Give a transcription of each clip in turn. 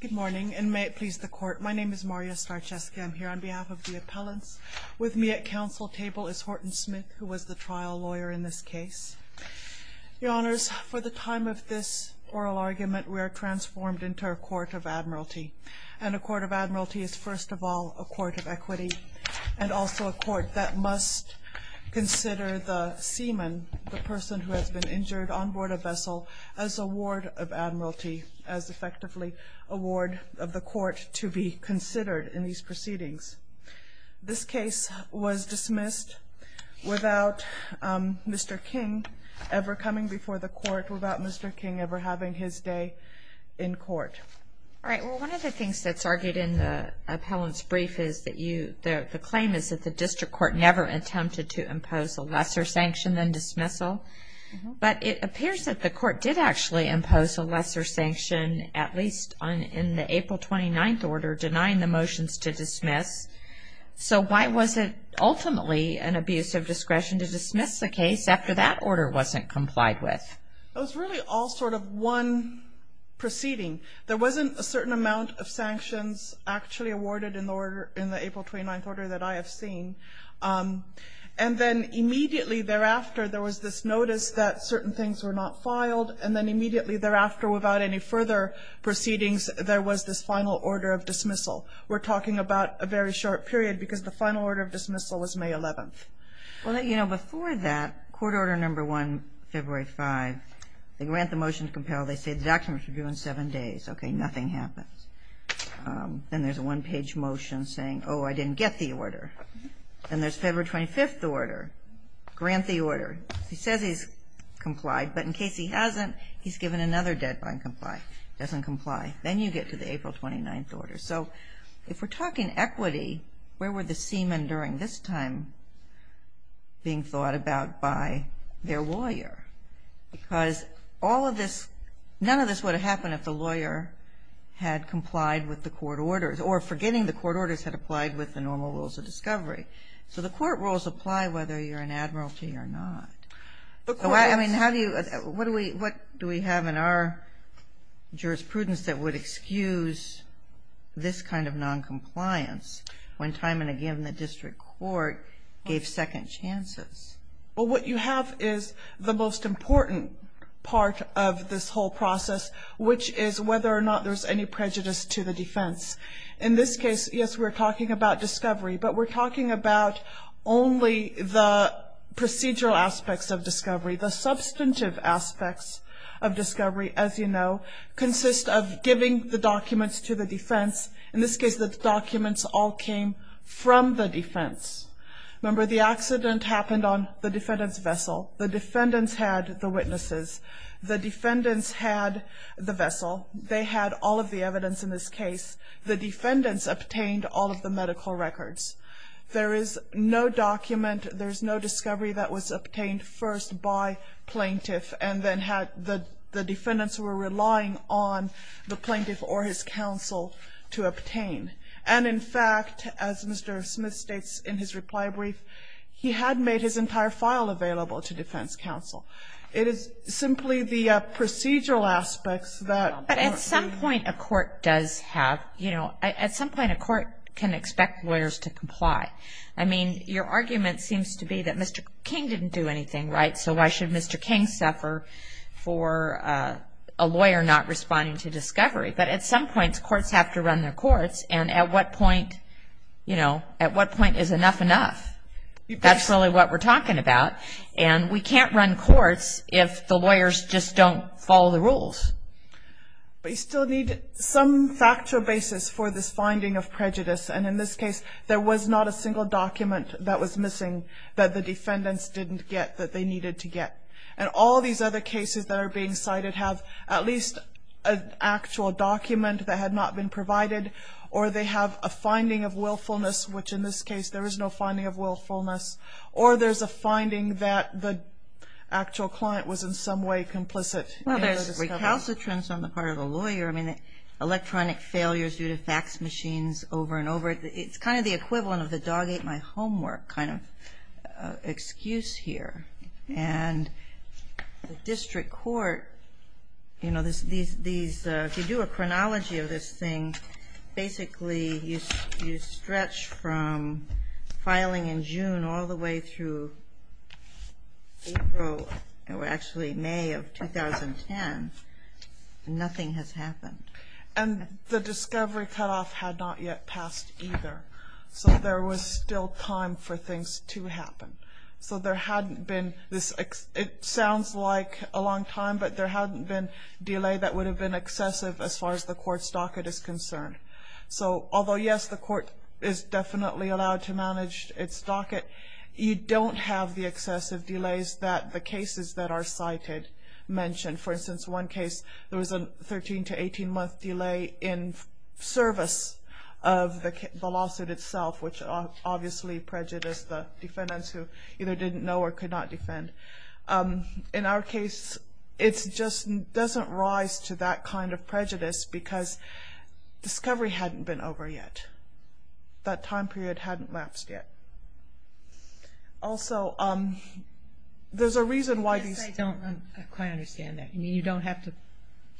Good morning, and may it please the Court, my name is Maria Starczewski. I'm here on behalf of the appellants. With me at Council table is Horton Smith, who was the trial lawyer in this case. Your Honours, for the time of this oral argument, we are transformed into a Court of Admiralty, and a Court of Admiralty is first of all a Court of Equity, and also a Court that must consider the seaman, the person who has been injured on board a vessel, as a ward of Admiralty, as effectively a ward of the Court to be considered in these proceedings. This case was dismissed without Mr. King ever coming before the Court, without Mr. King ever having his day in Court. All right, well one of the things that's argued in the appellant's brief is that the claim is that the District Court never attempted to impose a lesser sanction than dismissal, but it appears that the Court did actually impose a lesser sanction, at least in the April 29th order, denying the motions to dismiss. So why was it ultimately an abuse of discretion to dismiss the case after that order wasn't complied with? It was really all sort of one proceeding. There wasn't a certain amount of sanctions actually awarded in the April 29th order that I have seen, and then immediately thereafter there was this notice that certain things were not filed, and then immediately thereafter without any further proceedings there was this final order of dismissal. We're talking about a very short period because the final order of dismissal was May 11th. Well, you know, before that, Court Order No. 1, February 5, they grant the motion to compel. They say the documents are due in seven days. Okay, nothing happens. Then there's a one-page motion saying, oh, I didn't get the order. Then there's February 25th order. Grant the motion. He says he's complied, but in case he hasn't, he's given another deadline to comply. He doesn't comply. Then you get to the April 29th order. So if we're talking equity, where were the seamen during this time being thought about by their lawyer? Because all of this, none of this would have happened if the lawyer had complied with the Court orders, or forgetting the Court orders had applied with the normal rules of discovery. So the Court rules apply whether you're an admiralty or not. The Court's... I mean, how do you... What do we have in our jurisprudence that would excuse this kind of noncompliance when time and again the district court gave second chances? Well, what you have is the most important part of this whole process, which is whether or not there's any prejudice to the defense. In this case, yes, we're talking about discovery, but we're talking about only the procedural aspects of discovery. The substantive aspects of discovery, as you know, consist of giving the documents to the defense. In this case, the documents all came from the defense. Remember, the accident happened on the defendant's vessel. The defendants had the witnesses. The defendants had the vessel. They had all of the evidence in this case. The defendants obtained all of the medical records. There is no document, there's no discovery that was obtained first by plaintiff, and then had the defendants were relying on the plaintiff or his counsel to obtain. And in fact, as Mr. Smith states in his reply brief, he had made his entire file available to defense counsel. It is simply the procedural aspects that... At some point, a court can expect lawyers to comply. I mean, your argument seems to be that Mr. King didn't do anything, right? So why should Mr. King suffer for a lawyer not responding to discovery? But at some points, courts have to run their courts, and at what point is enough enough? That's really what we're talking about. And we can't run courts We still need some factual basis for this finding of prejudice. And in this case, there was not a single document that was missing that the defendants didn't get that they needed to get. And all these other cases that are being cited have at least an actual document that had not been provided, or they have a finding of willfulness, which in this case, there is no finding of willfulness. Or there's a finding that the actual client was in some way complicit. Well, there's recalcitrance on the part of the lawyer. I mean, electronic failures due to fax machines over and over. It's kind of the equivalent of the dog ate my homework kind of excuse here. And the district court, you know, if you do a chronology of this thing, basically, you stretch from filing in June all the way through April, or actually May of 2010, nothing has happened. And the discovery cutoff had not yet passed either. So there was still time for things to happen. So there hadn't been this, it sounds like a long time, but there hadn't been delay that would have been excessive as far as the court's docket is concerned. So although yes, the court is definitely allowed to manage its docket, you don't have the excessive delays that the cases that are cited mention. For instance, one case, there was a 13 to 18 month delay in service of the lawsuit itself, which obviously prejudiced the defendants who either didn't know or could not defend. In our case, it just doesn't rise to that kind of prejudice because discovery hadn't been over yet. That time period hadn't lapsed yet. Also, there's a reason why these... I don't quite understand that. You mean you don't have to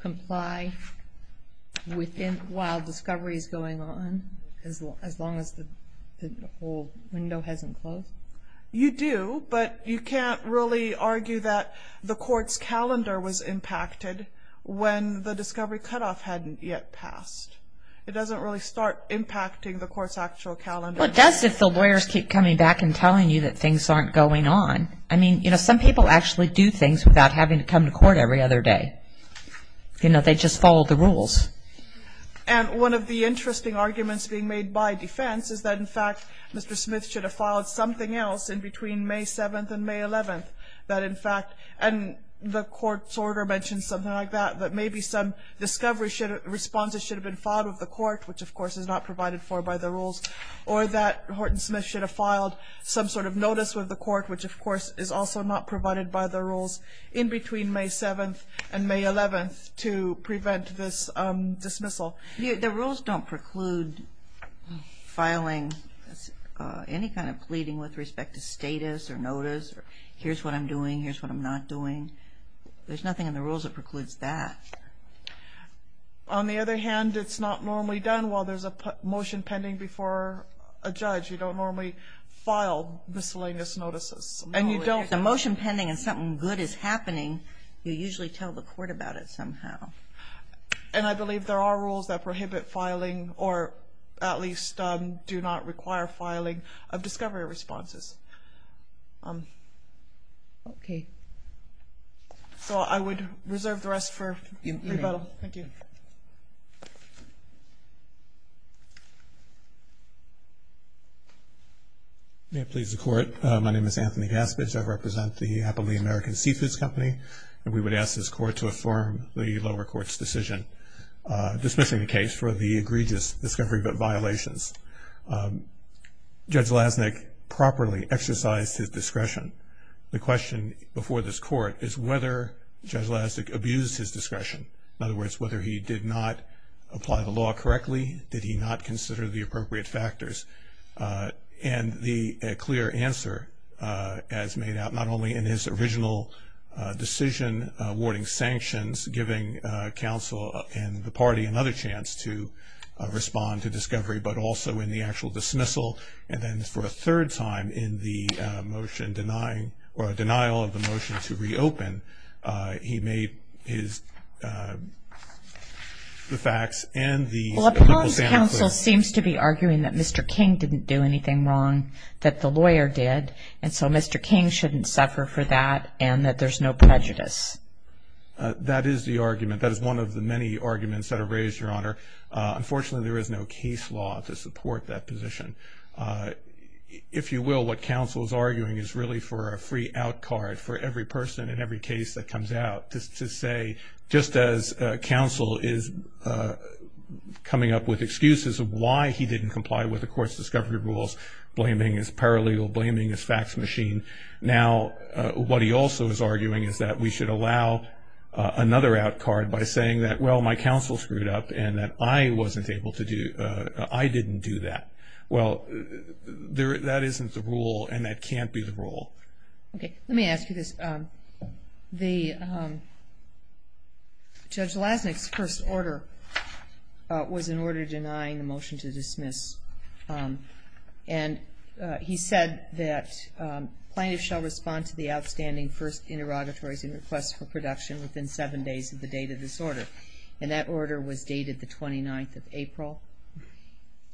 comply while discovery is going on as long as the whole window hasn't closed? You do, but you can't really argue that the court's calendar was impacted when the discovery cutoff hadn't yet passed. It doesn't really start impacting the court's actual calendar. Well, it does if the lawyers keep coming back and telling you that things aren't going on. I mean, you know, some people actually do things without having to come to court every other day. You know, they just follow the rules. And one of the interesting arguments being made by defense is that, in fact, Mr. Smith should have filed something else in between May 7th and May 11th that, in fact... And the court's order mentions something like that, that maybe some discovery responses should have been filed with the court, which, of course, is not provided for by the rules, or that Horton Smith should have filed some sort of notice with the court, which, of course, is also not provided by the rules, in between May 7th and May 11th to prevent this dismissal. The rules don't preclude filing any kind of pleading with respect to status or notice, or here's what I'm doing, here's what I'm not doing. There's nothing in the rules that precludes that. On the other hand, it's not normally done while there's a motion pending before a judge. You don't normally file miscellaneous notices, and you don't... No, if there's a motion pending and something good is happening, you usually tell the court about it somehow. And I believe there are rules that prohibit filing, or at least do not require filing of discovery responses. Okay. So I would reserve the rest for rebuttal. Thank you. May it please the court. My name is Anthony Gaspage. I represent the Happily American Seafoods Company, and we would ask this court to affirm the lower court's decision dismissing the case for the egregious discovery but violations. Judge Lasnik properly exercised his discretion. The question before this court is whether Judge Lasnik abused his discretion. In other words, whether he did not apply the law correctly. Did he not consider the appropriate factors? And the clear answer, as made out not only in his original decision awarding sanctions, giving counsel and the party another chance to respond to discovery, but also in the actual dismissal, and then for a third time in the motion denying, or a denial of the motion to reopen, he made his, the facts and the... Well, upon counsel seems to be arguing that Mr. King didn't do anything wrong, that the there's no prejudice. That is the argument. That is one of the many arguments that are raised, Your Honor. Unfortunately, there is no case law to support that position. If you will, what counsel is arguing is really for a free out card for every person in every case that comes out. Just to say, just as counsel is coming up with excuses of why he didn't comply with the court's discovery rules, blaming his paralegal, blaming his fax machine, now what he also is arguing is that we should allow another out card by saying that, well, my counsel screwed up, and that I wasn't able to do, I didn't do that. Well, that isn't the rule, and that can't be the rule. Okay. Let me ask you this. The Judge Lasnik's first order was an order denying the motion to dismiss, and he said that plaintiffs shall respond to the outstanding first interrogatories and requests for production within seven days of the date of this order, and that order was dated the 29th of April,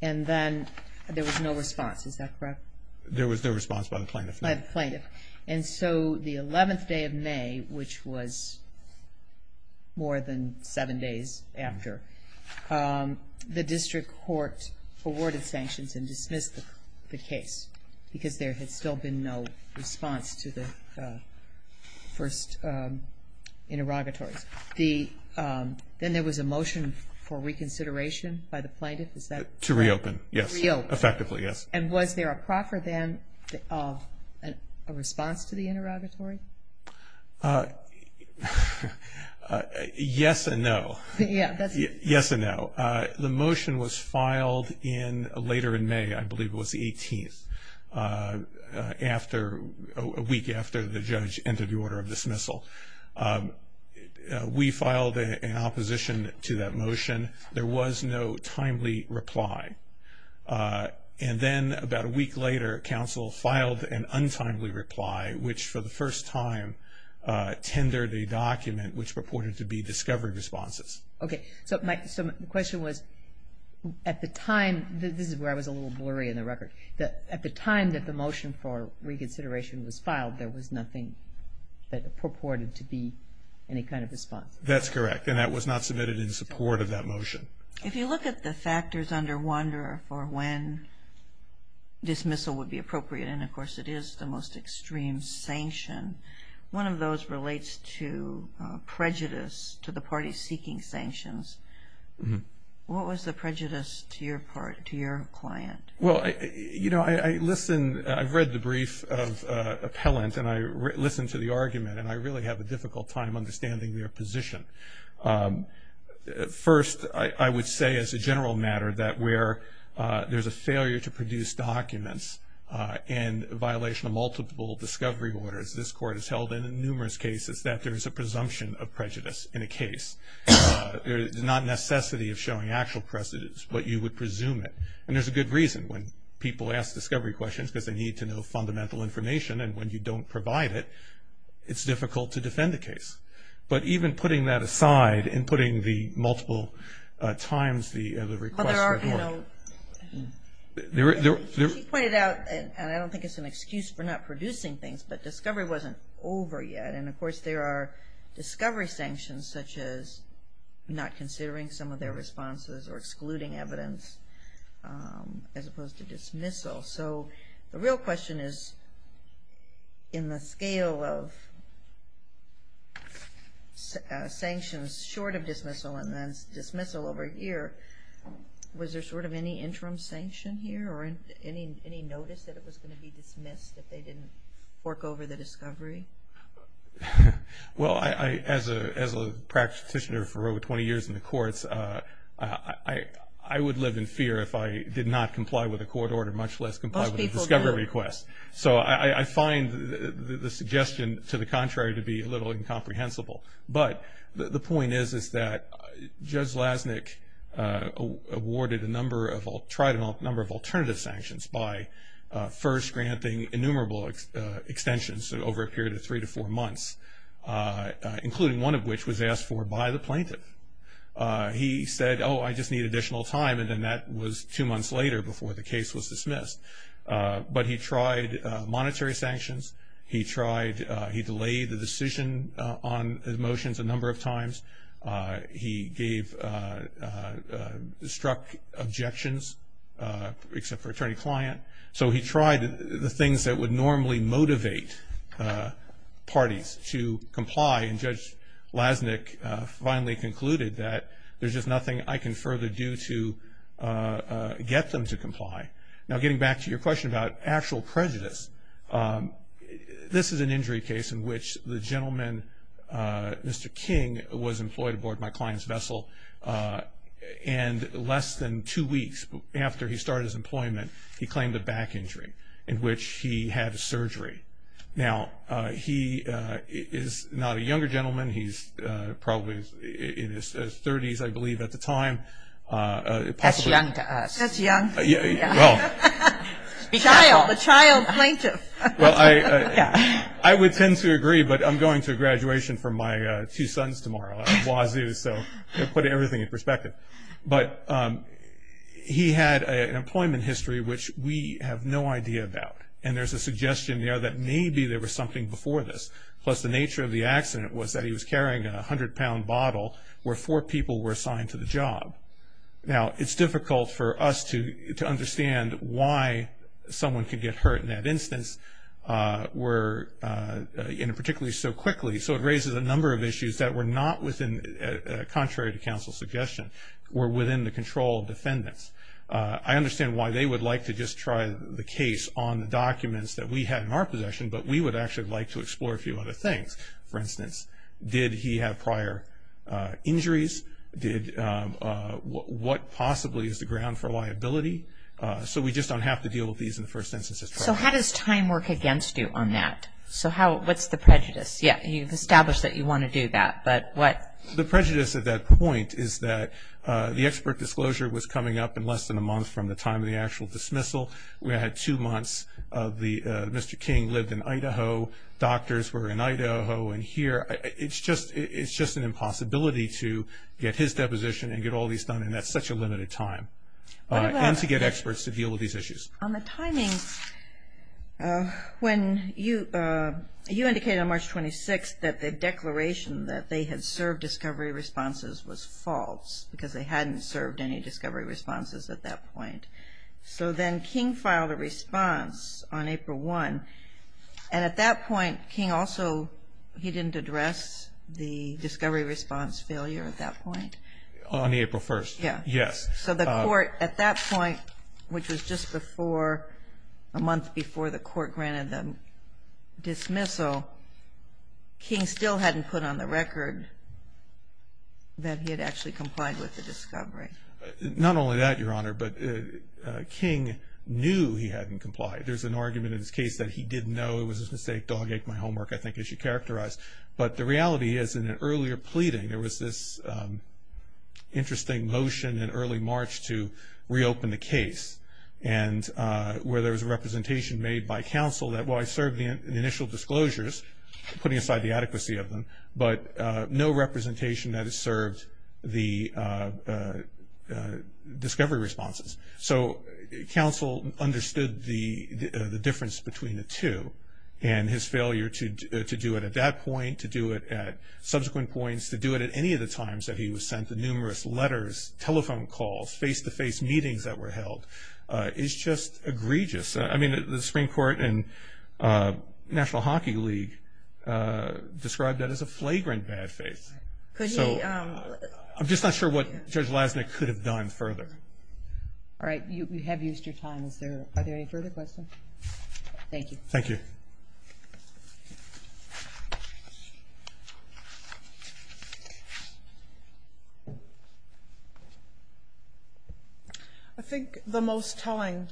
and then there was no response. Is that correct? There was no response by the plaintiff. By the plaintiff. And so the 11th day of May, which was more than seven days after, the district court awarded sanctions and dismissed the case, because there had still been no response to the first interrogatories. Then there was a motion for reconsideration by the plaintiff. Is that correct? To reopen, yes. Reopen. Effectively, yes. And was there a proffer then of a response to the interrogatory? Yes and no. Yeah. Yes and no. The motion was filed later in May, I believe it was the 18th, a week after the judge entered the order of dismissal. We filed an opposition to that motion. There was no timely reply, and then about a week later, counsel filed an untimely reply, which for the first time tendered a document which purported to be discovery responses. Okay. So my question was, at the time, this is where I was a little blurry in the record. At the time that the motion for reconsideration was filed, there was nothing that purported to be any kind of response? That's correct, and that was not submitted in support of that motion. If you look at the factors under Wanderer for when dismissal would be appropriate, and of course it is the most extreme sanction, one of those relates to prejudice to the parties seeking sanctions. What was the prejudice to your client? Well, you know, I've read the brief of appellant, and I listened to the argument, and I really have a difficult time understanding their position. First, I would say as a general matter that where there's a failure to produce documents in violation of multiple discovery orders, this court has held in numerous cases that there's a presumption of prejudice in a case. There's not necessity of showing actual precedence, but you would presume it, and there's a good reason. When people ask discovery questions because they need to know fundamental information, and when you don't provide it, it's difficult to defend the case. But even putting that aside, and putting the multiple times the request for work. She pointed out, and I don't think it's an excuse for not producing things, but discovery wasn't over yet, and of course there are discovery sanctions such as not considering some of their responses or excluding evidence as opposed to dismissal. So the real question is, in the scale of sanctions short of dismissal, and then dismissal over a year, was there sort of any interim sanction here, or any notice that it was going to be dismissed if they didn't work over the discovery? Well, as a practitioner for over 20 years in the courts, I would live in fear if I did not comply with a court order, much less comply with a discovery request. So I find the suggestion to the contrary to be a little incomprehensible. But the point is that Judge Lasnik awarded a number of alternative sanctions by first granting innumerable extensions over a period of three to four months, including one of which was asked for by the plaintiff. He said, oh, I just need additional time, and then that was two months later before the case was dismissed. But he tried monetary sanctions. He tried, he delayed the decision on the motions a number of times. He gave, struck objections, except for attorney-client. So he tried the things that would normally motivate parties to comply, and Judge Lasnik finally concluded that there's just nothing I can further do to get them to comply. Now getting back to your question about actual prejudice, this is an injury case in which the gentleman, Mr. King, was employed aboard my client's vessel, and less than two weeks after he started his employment, he claimed a back injury in which he had surgery. Now he is not a younger gentleman. He's probably in his thirties, I believe, at the time. That's young to us. That's young. Well. A child. A child plaintiff. Well, I would tend to agree, but I'm going to a graduation for my two sons tomorrow. I'm a Wazoo, so I put everything in perspective. But he had an employment history which we have no idea about, and there's a suggestion there that maybe there was something before this. Plus the nature of the accident was that he was carrying a 100-pound bottle where four people were assigned to the job. Now it's difficult for us to understand why someone could get hurt in that instance, and particularly so quickly. So it raises a number of issues that were not within, contrary to counsel's suggestion, were within the control of defendants. I understand why they would like to just try the case on the documents that we had in our possession, but we would actually like to explore a few other things. For instance, did he have prior injuries? What possibly is the ground for liability? So we just don't have to deal with these in the first instance. So how does time work against you on that? So what's the prejudice? Yeah, you've established that you want to do that, but what? The prejudice at that point is that the expert disclosure was coming up in less than a month from the time of the actual dismissal. We had two months. Mr. King lived in Idaho. Doctors were in Idaho and here. It's just an impossibility to get his deposition and get all these done in such a limited time, and to get experts to deal with these issues. On the timing, when you indicated on March 26th that the declaration that they had served discovery responses was false, because they hadn't served any discovery responses at that point. So then King filed a response on April 1, and at that point, King also, he didn't address the discovery response failure at that point. On April 1st. Yes. So the court, at that point, which was just before, a month before the court granted the dismissal, King still hadn't put on the record that he had actually complied with the discovery. Not only that, Your Honor, but King knew he hadn't complied. There's an argument in his case that he didn't know it was a mistake. Dog ate my homework, I think, as you characterized. But the reality is, in an earlier pleading, there was this interesting motion in early March to reopen the case, and where there was a representation made by counsel that, while I served the initial disclosures, putting aside the adequacy of them, but no representation that has served the discovery responses. So counsel understood the difference between the two, and his failure to do it at that point, to do it at subsequent points, to do it at any of the times that he was sent the numerous letters, telephone calls, face-to-face meetings that were held, is just egregious. I mean, the Supreme Court and National Hockey League described that as a flagrant bad faith. So I'm just not sure what Judge Lasnik could have done further. All right, you have used your time. Are there any further questions? Thank you. I think the most telling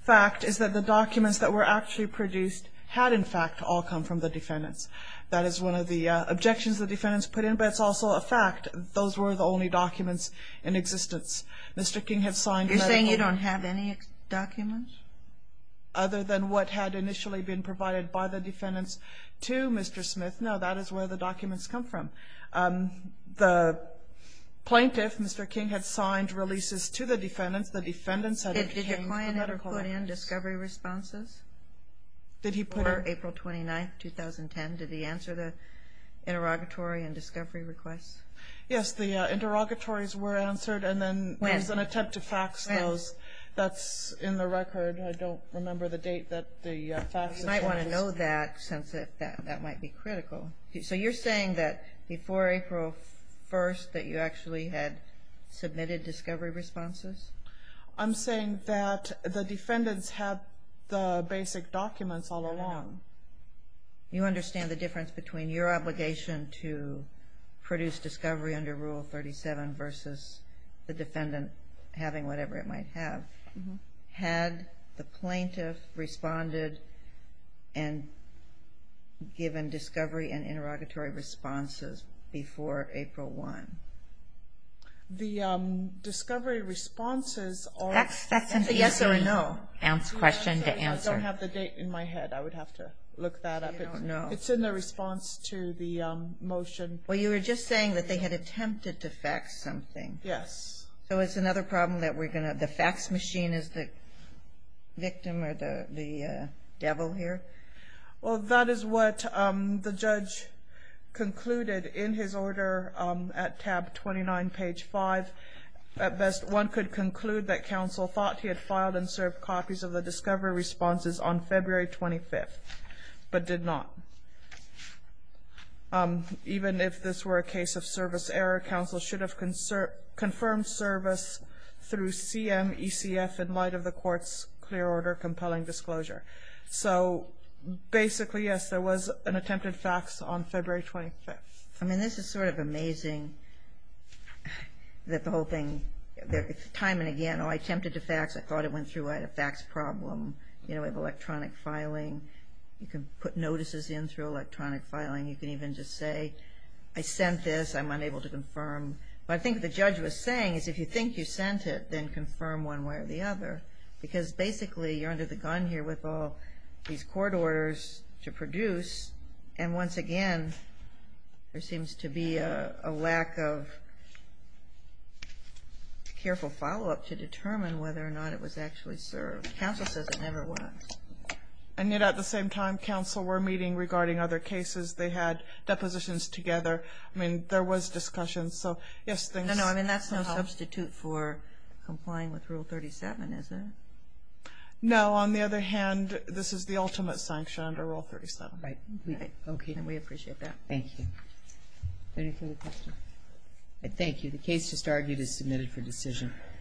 fact is that the documents that were actually produced had, in fact, all come from the defendants. That is one of the objections the defendants put in, but it's also a fact that those were the only documents in existence. Mr. King has signed medical You're saying you don't have any documents? Other than what had initially been provided by the defendants to Mr. Smith. No, that is where the documents come from. The plaintiff, Mr. King, had signed releases to the defendants. The defendants had obtained medical Did your client ever put in discovery responses? Did he put in Or April 29, 2010, did he answer the interrogatory and discovery requests? Yes, the interrogatories were answered and then there was an attempt to fax those. That's in the record. I don't remember the date that the faxes were issued. You might want to know that since that might be critical. So you're saying that before April 1st that you actually had submitted discovery responses? I'm saying that the defendants had the basic documents all along. You understand the difference between your defendant having whatever it might have. Had the plaintiff responded and given discovery and interrogatory responses before April 1? The discovery responses are That's a yes or a no. I don't have the date in my head. I would have to look that up. It's in the response to the motion. Well, you were just saying that they had faxed something. Yes. So it's another problem that we're going to have. The fax machine is the victim or the devil here? Well, that is what the judge concluded in his order at tab 29 page 5. At best, one could conclude that counsel thought he had filed and served copies of the discovery responses on February 25th, but did not. Even if this were a case of service error, counsel should have confirmed service through CMECF in light of the court's clear order compelling disclosure. So basically, yes, there was an attempted fax on February 25th. I mean, this is sort of amazing that the whole thing, time and again, I attempted to fax. I thought it went through. I had a fax problem. You know, we have electronic filing. You can put notices in through electronic filing. You can even just say, I sent this. I'm unable to confirm. But I think what the judge was saying is if you think you sent it, then confirm one way or the other. Because basically, you're under the gun here with all these court orders to produce. And once again, there seems to be a lack of careful follow-up to determine whether or not it was actually served. Counsel says it never was. And yet at the same time, counsel were meeting regarding other cases. They had depositions together. I mean, there was discussion. So, yes, thanks. No, no. I mean, that's no substitute for complying with Rule 37, is it? No. On the other hand, this is the ultimate sanction under Rule 37. Right. Okay. And we appreciate that. Thank you. Any further questions? Thank you. The case just argued is submitted for decision.